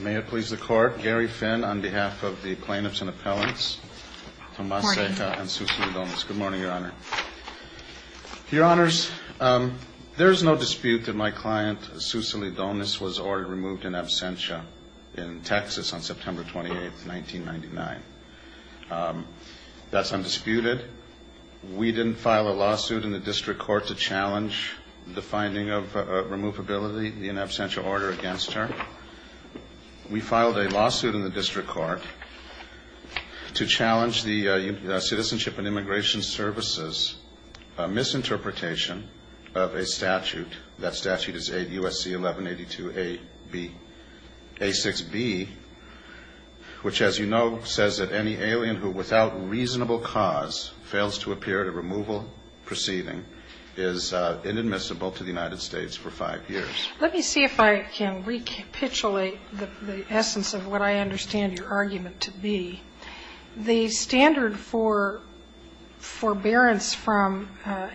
May it please the court, Gary Finn on behalf of the plaintiffs and appellants, Tomas Ceja and Susie Lidonis. Good morning, Your Honor. Your Honors, there is no dispute that my client Susie Lidonis was ordered removed in absentia in Texas on September 28, 1999. That's undisputed. We didn't file a lawsuit in the district court to challenge the finding of removability in absentia order against her. We filed a lawsuit in the district court to challenge the Citizenship and Immigration Services misinterpretation of a statute. That statute is U.S.C. 1182a6b, which, as you know, says that any alien who, without reasonable cause, fails to appear at a removal proceeding is inadmissible to the United States for five years. Let me see if I can recapitulate the essence of what I understand your argument to be. The standard for forbearance from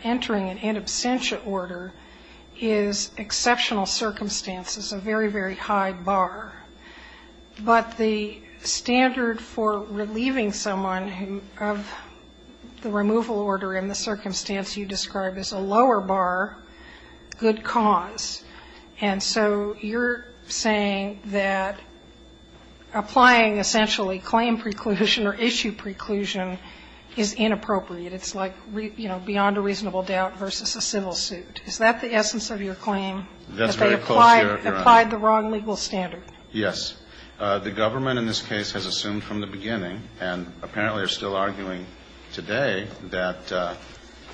entering an in absentia order is exceptional circumstances, a very, very high bar. But the standard for relieving someone of the removal order in the circumstance you describe as a lower bar, good cause. And so you're saying that applying essentially claim preclusion or issue preclusion is inappropriate. It's like, you know, beyond a reasonable doubt versus a civil suit. Is that the essence of your claim? That's very close, Your Honor. You have applied the wrong legal standard. Yes. The government in this case has assumed from the beginning, and apparently are still arguing today, that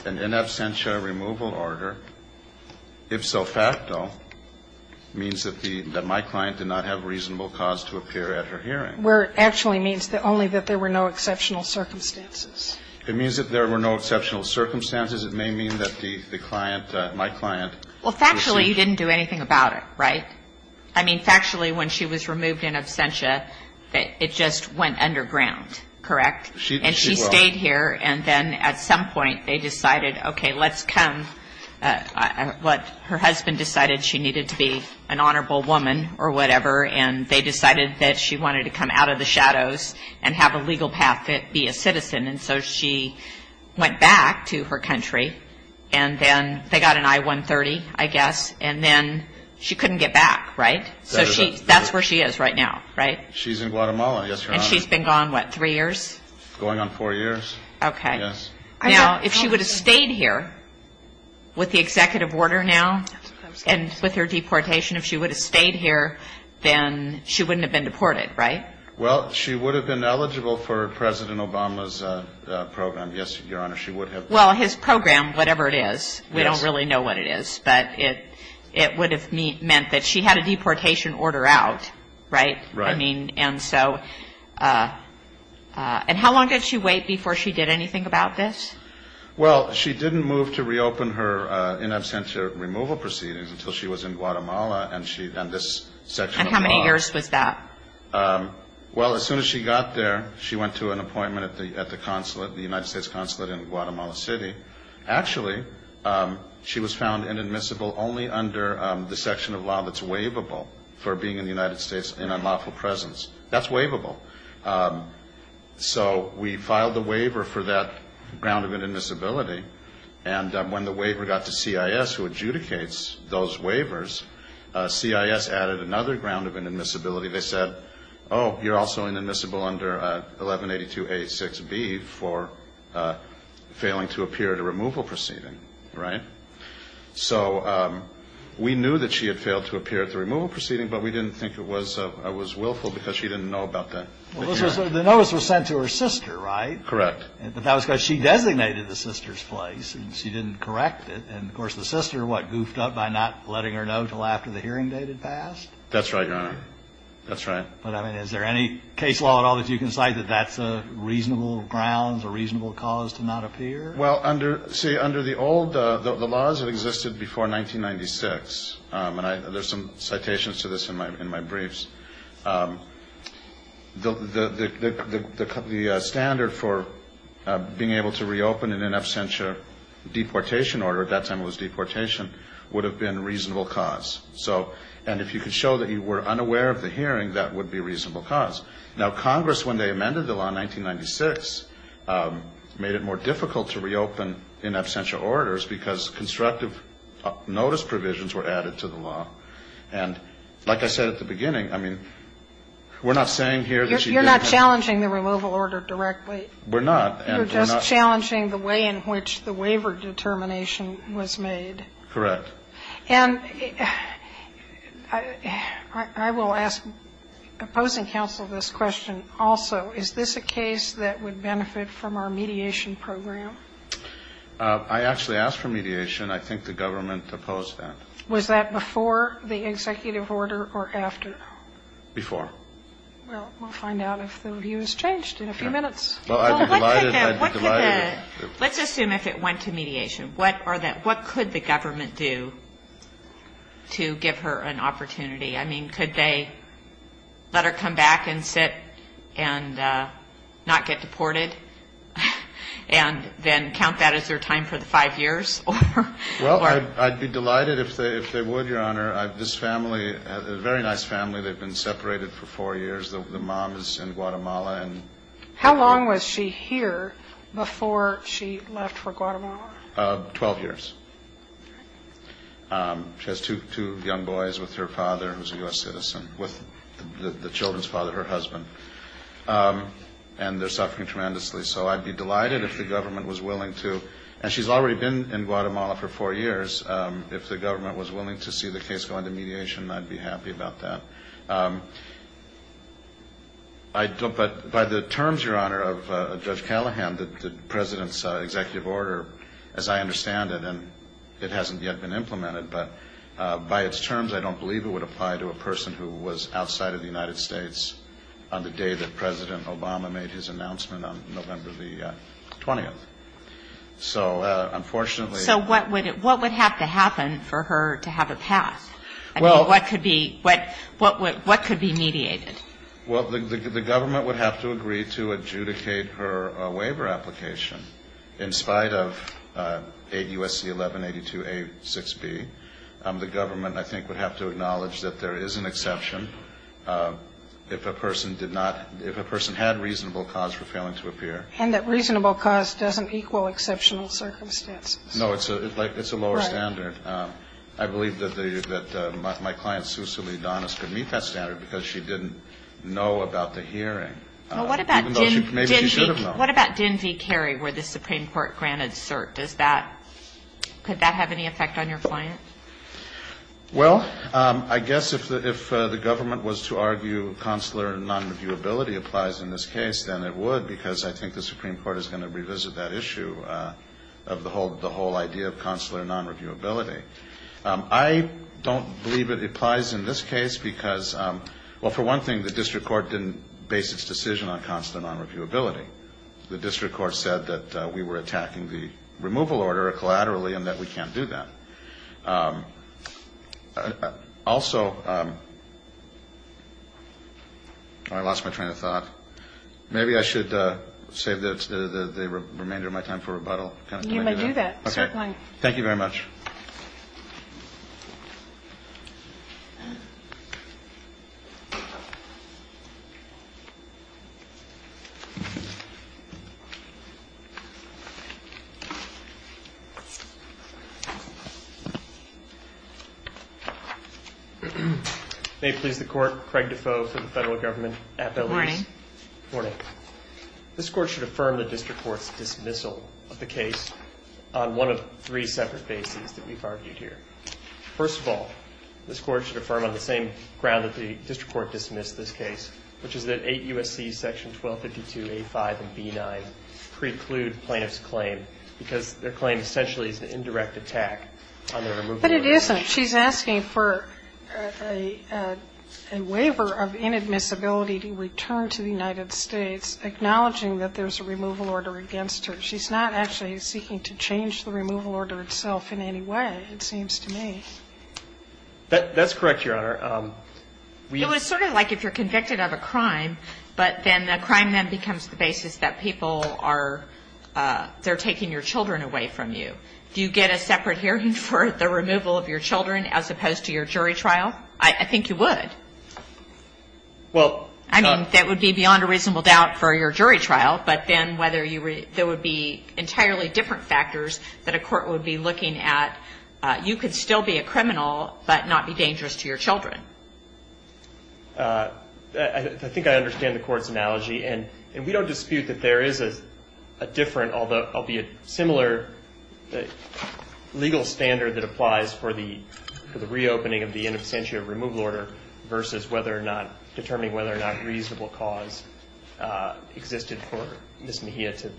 an in absentia removal order, if so facto, means that my client did not have reasonable cause to appear at her hearing. Where it actually means only that there were no exceptional circumstances. It means that there were no exceptional circumstances. It may mean that the client, my client, received. Well, factually, you didn't do anything about it, right? I mean, factually, when she was removed in absentia, it just went underground, correct? She was. And she stayed here, and then at some point they decided, okay, let's come. Her husband decided she needed to be an honorable woman or whatever, and they decided that she wanted to come out of the shadows and have a legal path to be a citizen. And so she went back to her country, and then they got an I-130, I guess, and then she couldn't get back, right? So that's where she is right now, right? She's in Guatemala, yes, Your Honor. And she's been gone, what, three years? Going on four years. Okay. Yes. Now, if she would have stayed here with the executive order now, and with her deportation, if she would have stayed here, then she wouldn't have been deported, right? Well, she would have been eligible for President Obama's program, yes, Your Honor. She would have. Well, his program, whatever it is, we don't really know what it is, but it would have meant that she had a deportation order out, right? Right. I mean, and so, and how long did she wait before she did anything about this? Well, she didn't move to reopen her in absentia removal proceedings until she was in Guatemala, and this section of the law. And how many years was that? Well, as soon as she got there, she went to an appointment at the consulate, the United States consulate in Guatemala City. Actually, she was found inadmissible only under the section of law that's waivable for being in the United States in unlawful presence. That's waivable. So we filed a waiver for that ground of inadmissibility, and when the waiver got to CIS, who adjudicates those waivers, CIS added another ground of inadmissibility. They said, oh, you're also inadmissible under 1182a6b for failing to appear at a removal proceeding. Right? So we knew that she had failed to appear at the removal proceeding, but we didn't think it was willful because she didn't know about that. Well, the notice was sent to her sister, right? Correct. But that was because she designated the sister's place, and she didn't correct it. And, of course, the sister, what, goofed up by not letting her know until after the hearing date had passed? That's right, Your Honor. That's right. But, I mean, is there any case law at all that you can cite that that's a reasonable ground, a reasonable cause to not appear? Well, see, under the old laws that existed before 1996, and there's some citations to this in my briefs, the standard for being able to reopen in an absentia deportation order, at that time it was deportation, would have been reasonable cause. So, and if you could show that you were unaware of the hearing, that would be a reasonable cause. Now, Congress, when they amended the law in 1996, made it more difficult to reopen in absentia orders because constructive notice provisions were added to the law. And, like I said at the beginning, I mean, we're not saying here that she didn't. You're not challenging the removal order directly. We're not. You're just challenging the way in which the waiver determination was made. Correct. And I will ask opposing counsel this question also. Is this a case that would benefit from our mediation program? I actually asked for mediation. I think the government opposed that. Was that before the executive order or after? Before. Well, we'll find out if the view has changed in a few minutes. Well, I'd be delighted. Let's assume if it went to mediation. What could the government do to give her an opportunity? I mean, could they let her come back and sit and not get deported, and then count that as their time for the five years? Well, I'd be delighted if they would, Your Honor. This family is a very nice family. They've been separated for four years. The mom is in Guatemala. How long was she here before she left for Guatemala? Twelve years. She has two young boys with her father, who's a U.S. citizen, with the children's father, her husband. And they're suffering tremendously. So I'd be delighted if the government was willing to. And she's already been in Guatemala for four years. If the government was willing to see the case go into mediation, I'd be happy about that. But by the terms, Your Honor, of Judge Callahan, the President's executive order, as I understand it, and it hasn't yet been implemented, but by its terms, I don't believe it would apply to a person who was outside of the United States on the day that President Obama made his announcement on November the 20th. So, unfortunately. So what would have to happen for her to have a pass? I mean, what could be mediated? Well, the government would have to agree to adjudicate her waiver application. In spite of 8 U.S.C. 1182a6b, the government, I think, would have to acknowledge that there is an exception. If a person did not ‑‑ if a person had reasonable cause for failing to appear. And that reasonable cause doesn't equal exceptional circumstances. No, it's a lower standard. I believe that my client, Susie Leodonis, could meet that standard because she didn't know about the hearing. Well, what about ‑‑ Even though maybe she should have known. What about Din V. Carey, where the Supreme Court granted cert? Does that ‑‑ could that have any effect on your client? Well, I guess if the government was to argue consular nonreviewability applies in this case, then it would because I think the Supreme Court is going to revisit that issue of the whole idea of consular nonreviewability. I don't believe it applies in this case because, well, for one thing, the district court didn't base its decision on consular nonreviewability. The district court said that we were attacking the removal order collaterally and that we can't do that. Also, I lost my train of thought. Maybe I should save the remainder of my time for rebuttal. You may do that. Certainly. Thank you very much. May it please the Court. Craig Defoe for the Federal Government. Good morning. Good morning. This Court should affirm the district court's dismissal of the case on one of three separate bases that we've argued here. First of all, this Court should affirm on the same ground that the district court dismissed this case, which is that 8 U.S.C. section 1252A5 and B9 preclude plaintiff's claim because their claim essentially is an indirect attack on the removal order. But it isn't. She's asking for a waiver of inadmissibility to return to the United States, acknowledging that there's a removal order against her. She's not actually seeking to change the removal order itself in any way, it seems to me. That's correct, Your Honor. It was sort of like if you're convicted of a crime, but then the crime then becomes the basis that people are they're taking your children away from you. Do you get a separate hearing for the removal of your children as opposed to your jury trial? I think you would. Well. I mean, that would be beyond a reasonable doubt for your jury trial, but then whether there would be entirely different factors that a court would be looking at. You could still be a criminal, but not be dangerous to your children. I think I understand the court's analogy, and we don't dispute that there is a different, albeit similar legal standard that applies for the reopening of the inadmissibility of the removal order versus determining whether or not a reasonable cause existed for Ms. Mejia to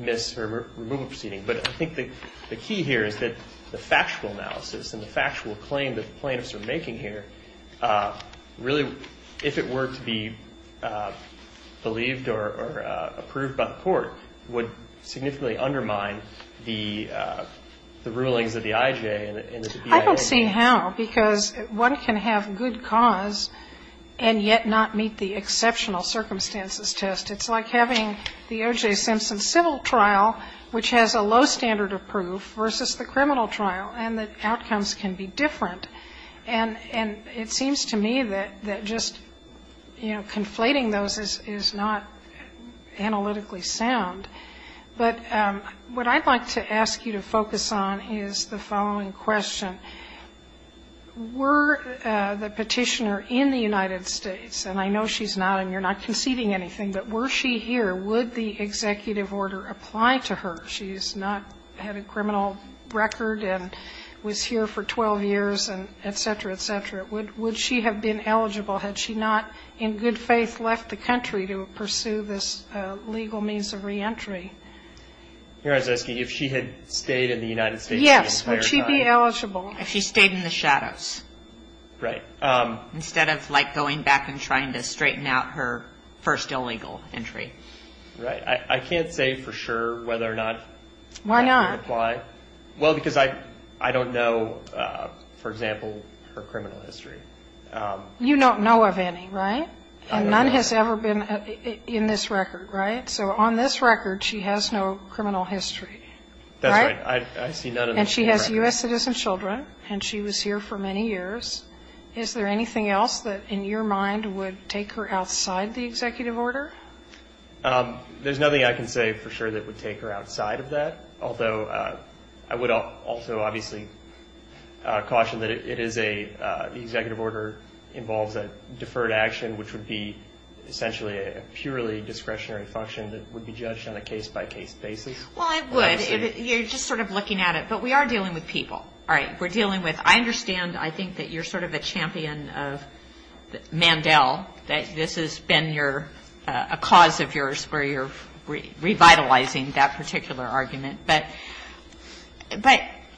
miss her removal proceeding. But I think the key here is that the factual analysis and the factual claim that the plaintiffs are making here really, if it were to be believed or approved by the court, would significantly undermine the rulings of the IJ and the BIA. I don't see how, because one can have good cause and yet not meet the exceptional circumstances test. It's like having the O.J. Simpson civil trial, which has a low standard of proof, versus the criminal trial, and the outcomes can be different. And it seems to me that just, you know, conflating those is not analytically sound. But what I'd like to ask you to focus on is the following question. Were the Petitioner in the United States, and I know she's not and you're not conceding anything, but were she here, would the executive order apply to her? She's not had a criminal record and was here for 12 years and et cetera, et cetera. Would she have been eligible had she not, in good faith, left the country to pursue this legal means of reentry? Here I was asking you if she had stayed in the United States. Yes. Would she be eligible? If she stayed in the shadows. Right. Instead of, like, going back and trying to straighten out her first illegal entry. Right. I can't say for sure whether or not that would apply. Why not? Well, because I don't know, for example, her criminal history. You don't know of any, right? And none has ever been in this record, right? So on this record she has no criminal history, right? That's right. I see none in this record. And she has U.S. citizen children, and she was here for many years. Is there anything else that, in your mind, would take her outside the executive order? There's nothing I can say for sure that would take her outside of that. Although I would also obviously caution that it is a, the executive order involves a deferred action, which would be essentially a purely discretionary function that would be judged on a case-by-case basis. Well, it would. You're just sort of looking at it. But we are dealing with people. All right? We're dealing with, I understand, I think, that you're sort of a champion of Mandel, that this has been your, a cause of yours where you're revitalizing that particular argument. But,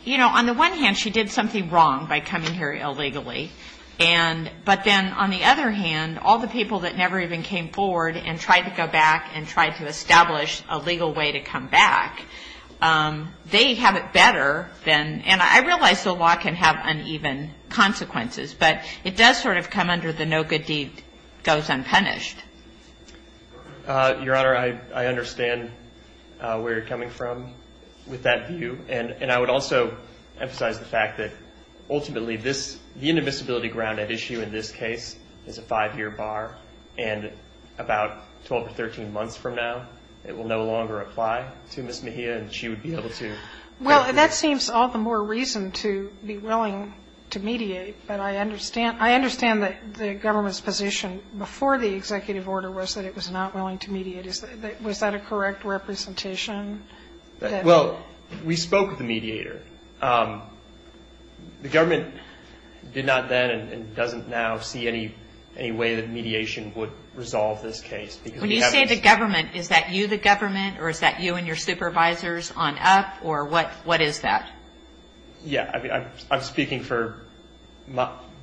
you know, on the one hand she did something wrong by coming here illegally. But then on the other hand, all the people that never even came forward and tried to go back and tried to establish a legal way to come back, they have it better than, and I realize the law can have uneven consequences, but it does sort of come under the no good deed goes unpunished. Your Honor, I understand where you're coming from with that view. And I would also emphasize the fact that ultimately this, the inadmissibility ground at issue in this case is a five-year bar, and about 12 or 13 months from now it will no longer apply to Ms. Mejia and she would be able to. Well, that seems all the more reason to be willing to mediate, but I understand that the government's position before the executive order was that it was not willing to mediate. Was that a correct representation? Well, we spoke with the mediator. The government did not then and doesn't now see any way that mediation would resolve this case. When you say the government, is that you the government or is that you and your supervisors on up or what is that? Yeah, I'm speaking for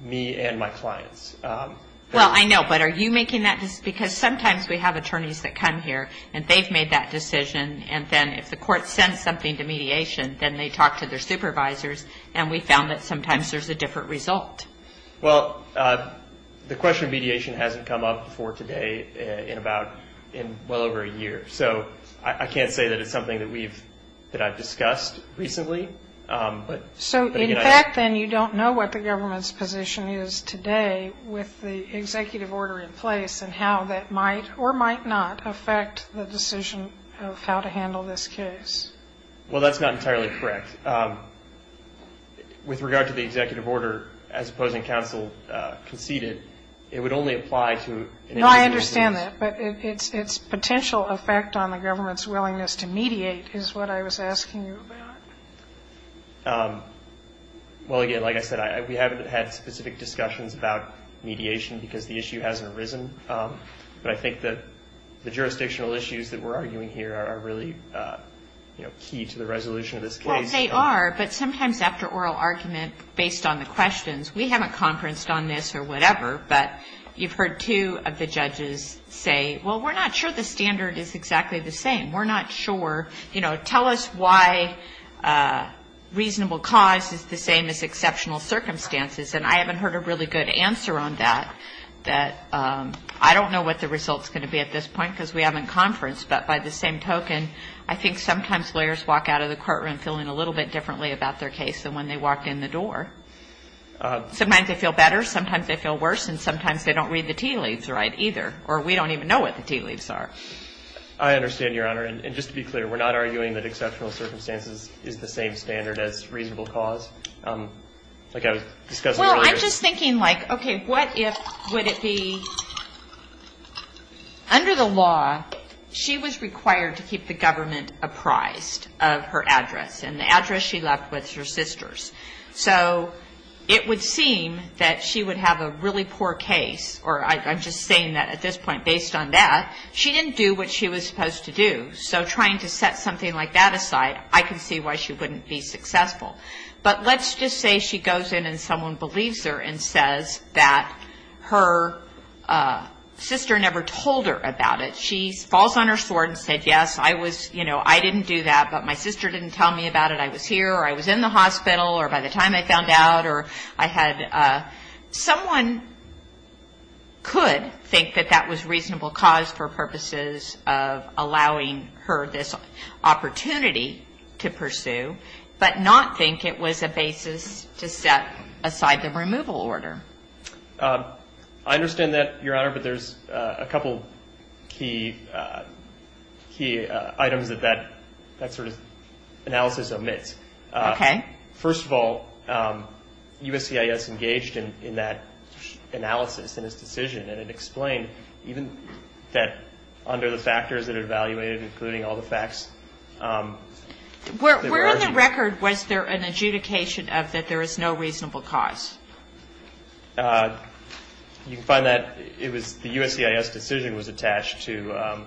me and my clients. Well, I know, but are you making that decision? Because sometimes we have attorneys that come here and they've made that decision and then if the court sends something to mediation, then they talk to their supervisors and we found that sometimes there's a different result. Well, the question of mediation hasn't come up before today in well over a year. So I can't say that it's something that I've discussed recently. So in fact then you don't know what the government's position is today with the executive order in place and how that might or might not affect the decision of how to handle this case. Well, that's not entirely correct. With regard to the executive order, as opposing counsel conceded, it would only apply to No, I understand that. But its potential effect on the government's willingness to mediate is what I was asking you about. Well, again, like I said, we haven't had specific discussions about mediation because the issue hasn't arisen. But I think that the jurisdictional issues that we're arguing here are really key to the resolution of this case. Well, they are. But sometimes after oral argument, based on the questions, we haven't conferenced on this or whatever. But you've heard two of the judges say, well, we're not sure the standard is exactly the same. We're not sure. You know, tell us why reasonable cause is the same as exceptional circumstances. And I haven't heard a really good answer on that. I don't know what the result's going to be at this point because we haven't conferenced. But by the same token, I think sometimes lawyers walk out of the courtroom feeling a little bit differently about their case than when they walked in the door. Sometimes they feel better. Sometimes they feel worse. And sometimes they don't read the tea leaves right either. Or we don't even know what the tea leaves are. I understand, Your Honor. And just to be clear, we're not arguing that exceptional circumstances is the same standard as reasonable cause. Like I was discussing earlier. I'm just thinking like, okay, what if, would it be, under the law, she was required to keep the government apprised of her address and the address she left with her sisters. So it would seem that she would have a really poor case, or I'm just saying that at this point, based on that, she didn't do what she was supposed to do. So trying to set something like that aside, I can see why she wouldn't be successful. But let's just say she goes in and someone believes her and says that her sister never told her about it. She falls on her sword and said, yes, I was, you know, I didn't do that, but my sister didn't tell me about it. I was here, or I was in the hospital, or by the time I found out, or I had, someone could think that that was reasonable cause for purposes of allowing her this opportunity to pursue. But not think it was a basis to set aside the removal order. I understand that, Your Honor, but there's a couple key items that that sort of analysis omits. Okay. First of all, USCIS engaged in that analysis and its decision, and it explained even that under the factors that it evaluated, including all the facts. Where in the record was there an adjudication of that there is no reasonable cause? You can find that it was the USCIS decision was attached to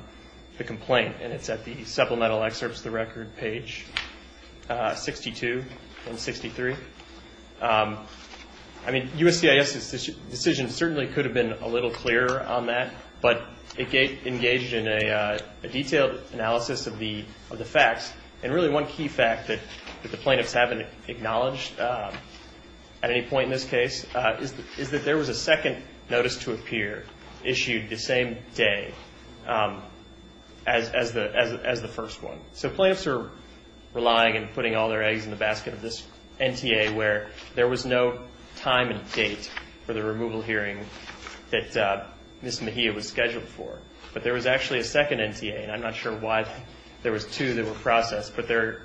the complaint, and it's at the supplemental excerpts of the record, page 62 and 63. I mean, USCIS's decision certainly could have been a little clearer on that, but it engaged in a detailed analysis of the facts, and really one key fact that the plaintiffs haven't acknowledged at any point in this case is that there was a second notice to appear issued the same day as the first one. So plaintiffs are relying and putting all their eggs in the basket of this NTA where there was no time and date for the removal hearing that Ms. Mejia was scheduled for. But there was actually a second NTA, and I'm not sure why there was two that were processed, but they're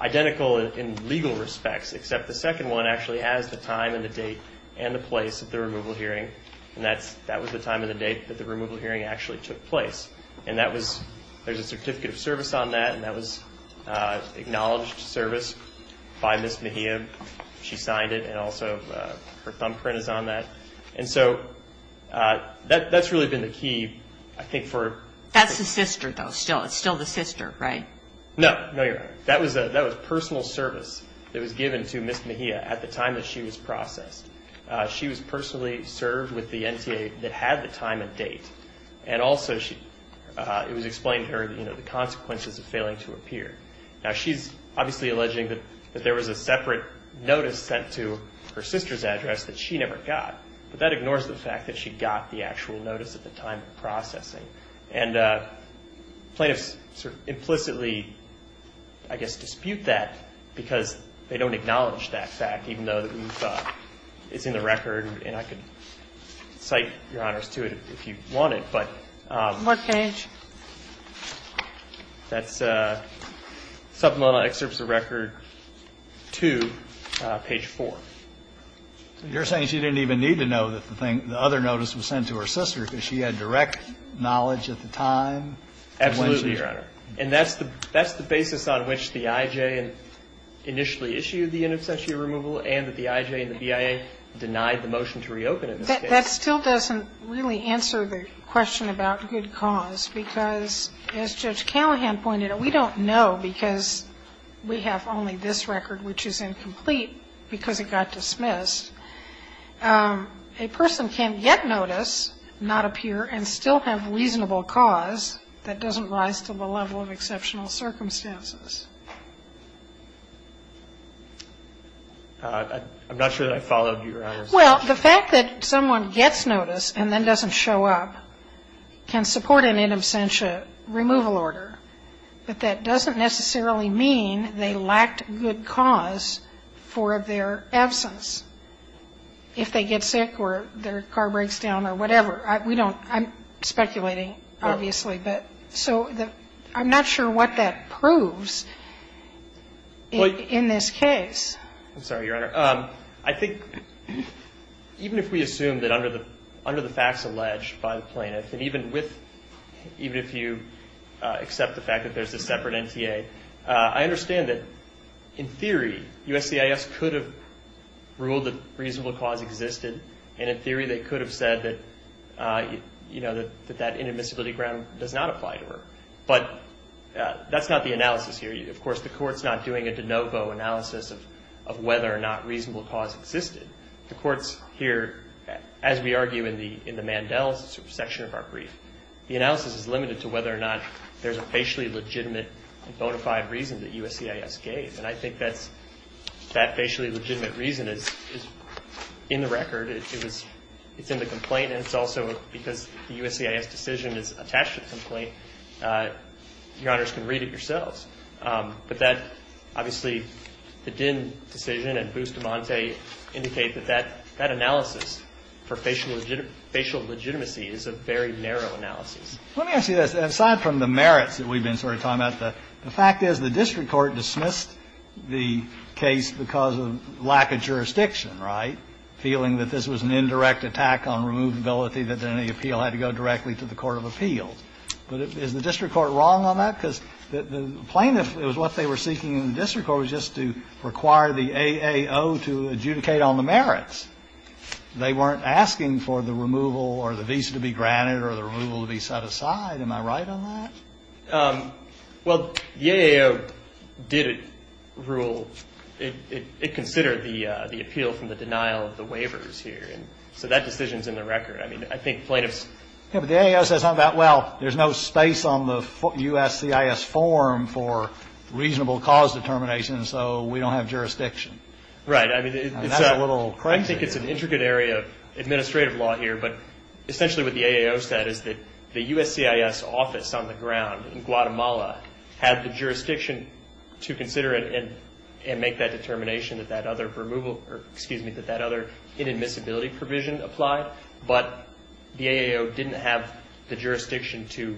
identical in legal respects, except the second one actually has the time and the date and the place of the removal hearing, and that was the time and the date that the removal hearing actually took place. And there's a certificate of service on that, and that was acknowledged service by Ms. Mejia. She signed it, and also her thumbprint is on that. And so that's really been the key, I think, for... That's the sister, though. It's still the sister, right? No. No, you're right. That was personal service that was given to Ms. Mejia at the time that she was processed. She was personally served with the NTA that had the time and date, and also it was explained to her, you know, the consequences of failing to appear. Now, she's obviously alleging that there was a separate notice sent to her sister's address that she never got, but that ignores the fact that she got the actual notice at the time of processing. And plaintiffs sort of implicitly, I guess, dispute that because they don't acknowledge that fact, even though it's in the record, and I can cite, Your Honors, to it if you want it. But... What page? That's supplemental excerpts of record 2, page 4. You're saying she didn't even need to know that the other notice was sent to her sister because she had direct knowledge at the time? Absolutely, Your Honor. And that's the basis on which the IJ initially issued the in absentia removal and that the IJ and the BIA denied the motion to reopen it. That still doesn't really answer the question about good cause because, as Judge Callahan pointed out, we don't know because we have only this record, which is incomplete because it got dismissed. A person can get notice, not appear, and still have reasonable cause that doesn't rise to the level of exceptional circumstances. I'm not sure that I followed, Your Honors. Well, the fact that someone gets notice and then doesn't show up can support an in absentia removal order, but that doesn't necessarily mean they lacked good cause for their absence. If they get sick or their car breaks down or whatever, I'm speculating, obviously. So I'm not sure what that proves in this case. I'm sorry, Your Honor. I think even if we assume that under the facts alleged by the plaintiff, and even if you accept the fact that there's a separate NTA, I understand that, in theory, USCIS could have ruled that reasonable cause existed, and in theory they could have said that that inadmissibility ground does not apply to her. But that's not the analysis here. Of course, the Court's not doing a de novo analysis of whether or not reasonable cause existed. The Court's here, as we argue in the Mandel section of our brief, the analysis is limited to whether or not there's a facially legitimate and bona fide reason that USCIS gave. And I think that facially legitimate reason is in the record. It's in the complaint, and it's also because the USCIS decision is attached to the complaint. Your Honors can read it yourselves. But that, obviously, the Dinn decision and Bustamante indicate that that analysis for facial legitimacy is a very narrow analysis. Let me ask you this. Aside from the merits that we've been sort of talking about, the fact is the district court dismissed the case because of lack of jurisdiction, right, feeling that this was an indirect attack on removability, that then the appeal had to go directly to the court of appeals. But is the district court wrong on that? Because the plaintiff, it was what they were seeking in the district court was just to require the AAO to adjudicate on the merits. They weren't asking for the removal or the visa to be granted or the removal to be set aside. Am I right on that? Well, the AAO did rule. It considered the appeal from the denial of the waivers here. And so that decision's in the record. I mean, I think plaintiffs ---- Yeah, but the AAO says something about, well, there's no space on the USCIS form for reasonable cause determination, so we don't have jurisdiction. Right. I mean, it's a ---- Isn't that a little crazy? I think it's an intricate area of administrative law here. But essentially what the AAO said is that the USCIS office on the ground in Guatemala had the jurisdiction to consider and make that determination that that other removal But the AAO didn't have the jurisdiction to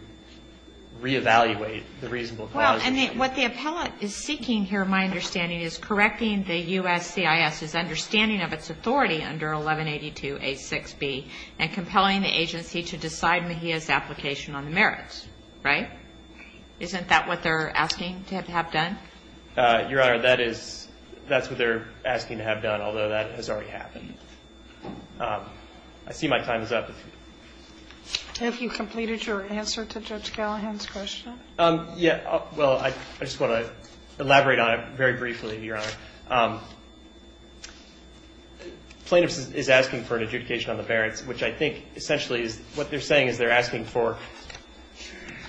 reevaluate the reasonable cause. Well, and what the appellate is seeking here, in my understanding, is correcting the USCIS's understanding of its authority under 1182A6B and compelling the agency to decide Mejia's application on the merits. Right? Isn't that what they're asking to have done? Your Honor, that is what they're asking to have done, although that has already happened. I see my time is up. Have you completed your answer to Judge Callahan's question? Yeah. Well, I just want to elaborate on it very briefly, Your Honor. Plaintiffs is asking for an adjudication on the merits, which I think essentially is what they're saying is they're asking for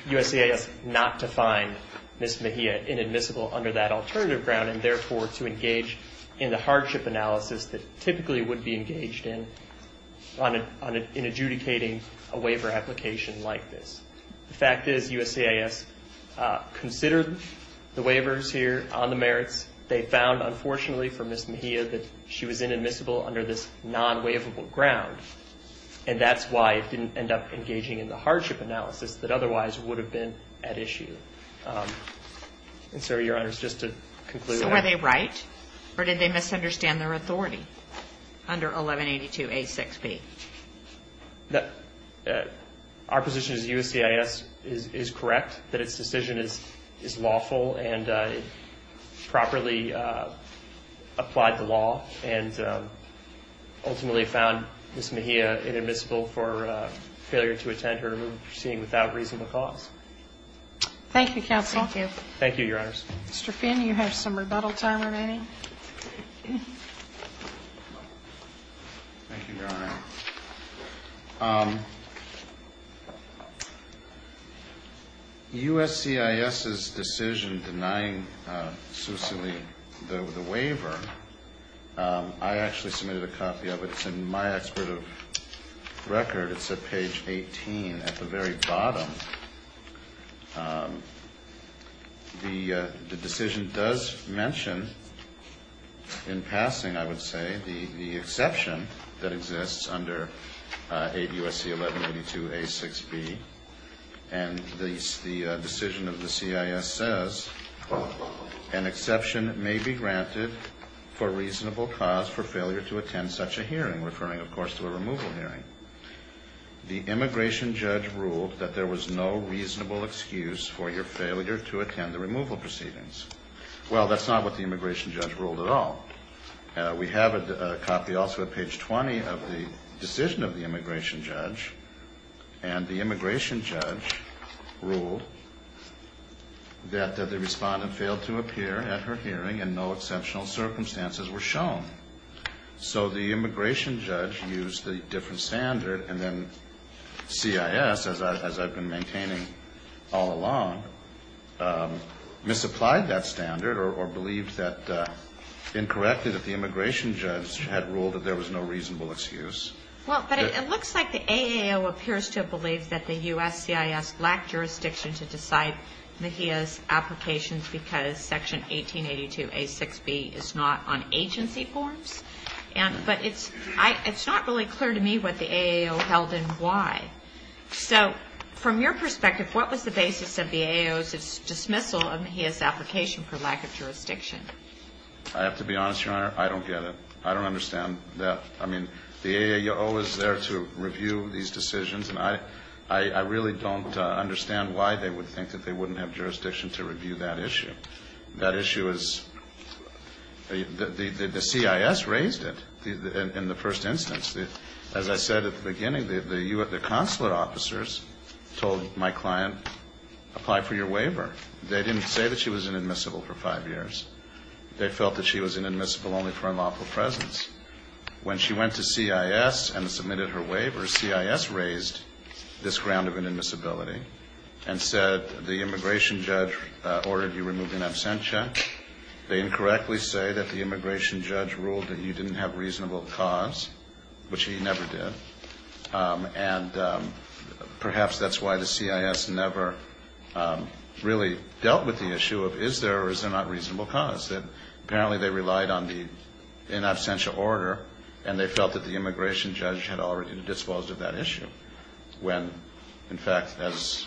USCIS not to find Ms. Mejia inadmissible under that alternative ground and therefore to engage in the hardship analysis that typically would be engaged in in adjudicating a waiver application like this. The fact is USCIS considered the waivers here on the merits. They found, unfortunately, for Ms. Mejia that she was inadmissible under this non-waivable ground, and that's why it didn't end up engaging in the hardship analysis that otherwise would have been at issue. And so, Your Honor, just to conclude that. So were they right, or did they misunderstand their authority under 1182A6B? Our position is USCIS is correct, that its decision is lawful and properly applied to law, and ultimately found Ms. Mejia inadmissible for failure to attend her proceeding without reasonable cause. Thank you, counsel. Thank you. Thank you, Your Honors. Mr. Finn, you have some rebuttal time remaining. Thank you, Your Honor. USCIS's decision denying Susan Lee the waiver, I actually submitted a copy of it. It's in my expert record. It's at page 18 at the very bottom. The decision does mention in passing, I would say, the exception that exists under USC1182A6B, and the decision of the CIS says, an exception may be granted for reasonable cause for failure to attend such a hearing, referring, of course, to a removal hearing. The immigration judge ruled that there was no reasonable excuse for your failure to attend the removal proceedings. Well, that's not what the immigration judge ruled at all. We have a copy also at page 20 of the decision of the immigration judge, and the immigration judge ruled that the respondent failed to appear at her hearing and no exceptional circumstances were shown. So the immigration judge used a different standard, and then CIS, as I've been maintaining all along, misapplied that standard or believed that, incorrectly, that the immigration judge had ruled that there was no reasonable excuse. Well, but it looks like the AAO appears to have believed that the USCIS lacked jurisdiction to decide Mahia's applications because Section 1882A6B is not on agency forms. But it's not really clear to me what the AAO held and why. Okay. So from your perspective, what was the basis of the AAO's dismissal of Mahia's application for lack of jurisdiction? I have to be honest, Your Honor, I don't get it. I don't understand that. I mean, the AAO is there to review these decisions, and I really don't understand why they would think that they wouldn't have jurisdiction to review that issue. That issue is the CIS raised it in the first instance. As I said at the beginning, the consulate officers told my client, apply for your waiver. They didn't say that she was inadmissible for five years. They felt that she was inadmissible only for unlawful presence. When she went to CIS and submitted her waiver, CIS raised this ground of inadmissibility and said the immigration judge ordered you remove an absentia. They incorrectly say that the immigration judge ruled that you didn't have reasonable cause, which he never did. And perhaps that's why the CIS never really dealt with the issue of is there or is there not reasonable cause, that apparently they relied on the in absentia order, and they felt that the immigration judge had already been disposed of that issue, when, in fact, as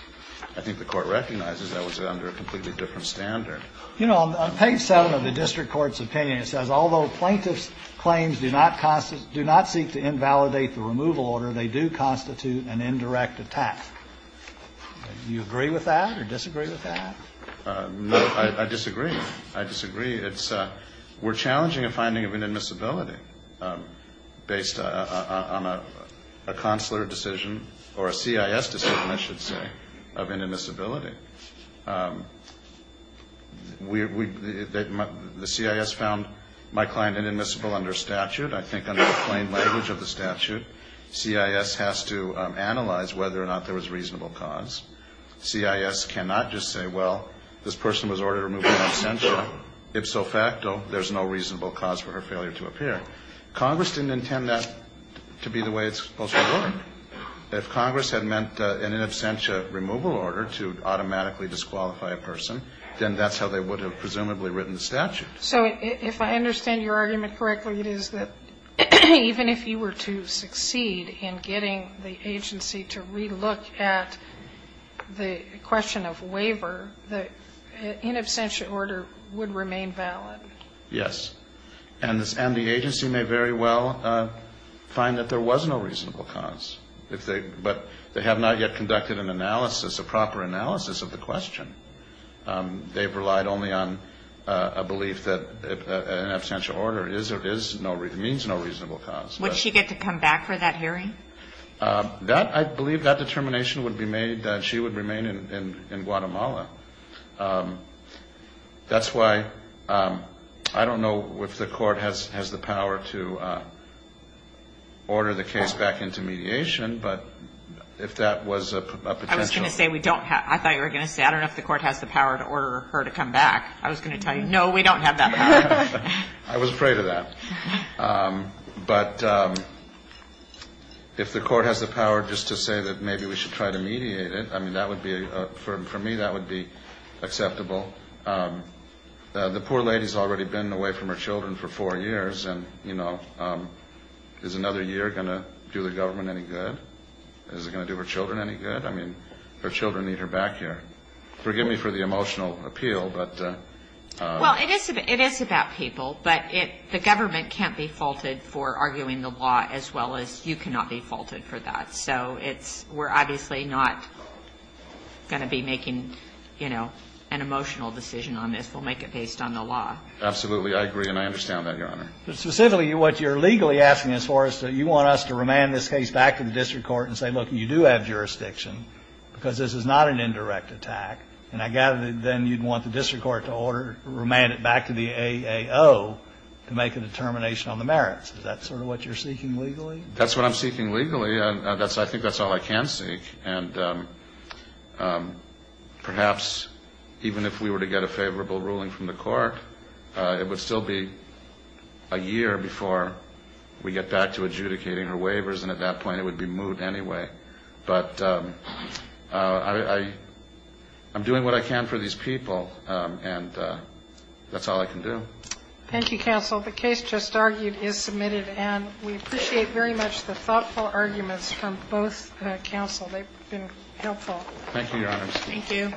I think the Court recognizes, that was under a completely different standard. You know, on page 7 of the district court's opinion, it says, although plaintiff's claims do not seek to invalidate the removal order, they do constitute an indirect attack. Do you agree with that or disagree with that? No, I disagree. I disagree. We're challenging a finding of inadmissibility based on a consular decision or a CIS decision, I should say, of inadmissibility. The CIS found my client inadmissible under statute. I think under the plain language of the statute, CIS has to analyze whether or not there was reasonable cause. CIS cannot just say, well, this person was ordered to remove an absentia. If so facto, there's no reasonable cause for her failure to appear. Congress didn't intend that to be the way it's supposed to work. If Congress had meant an in absentia removal order to automatically disqualify a person, then that's how they would have presumably written the statute. So if I understand your argument correctly, it is that even if you were to succeed in getting the agency to relook at the question of waiver, the in absentia order would remain valid. Yes. And the agency may very well find that there was no reasonable cause. But they have not yet conducted an analysis, a proper analysis of the question. They've relied only on a belief that an absentia order means no reasonable cause. Would she get to come back for that hearing? I believe that determination would be made that she would remain in Guatemala. That's why I don't know if the court has the power to order the case back into mediation, but if that was a potential ---- I was going to say we don't have ---- I thought you were going to say I don't know if the court has the power to order her to come back. I was going to tell you, no, we don't have that power. I was afraid of that. But if the court has the power just to say that maybe we should try to mediate it, I mean, that would be, for me, that would be acceptable. The poor lady has already been away from her children for four years, and, you know, is another year going to do the government any good? Is it going to do her children any good? I mean, her children need her back here. Forgive me for the emotional appeal, but ---- Well, it is about people, but the government can't be faulted for arguing the law as well as you cannot be faulted for that. So it's we're obviously not going to be making, you know, an emotional decision on this. We'll make it based on the law. Absolutely. I agree, and I understand that, Your Honor. But specifically, what you're legally asking is for us to ---- you want us to remand this case back to the district court and say, look, you do have jurisdiction because this is not an indirect attack, and I gather that then you'd want the district court to order, remand it back to the AAO to make a determination on the merits. Is that sort of what you're seeking legally? That's what I'm seeking legally. I think that's all I can seek. And perhaps even if we were to get a favorable ruling from the court, it would still be a year before we get back to adjudicating her waivers, and at that point it would be moot anyway. But I'm doing what I can for these people, and that's all I can do. Thank you, counsel. The case just argued is submitted, and we appreciate very much the thoughtful arguments from both counsel. They've been helpful. Thank you, Your Honor. Thank you.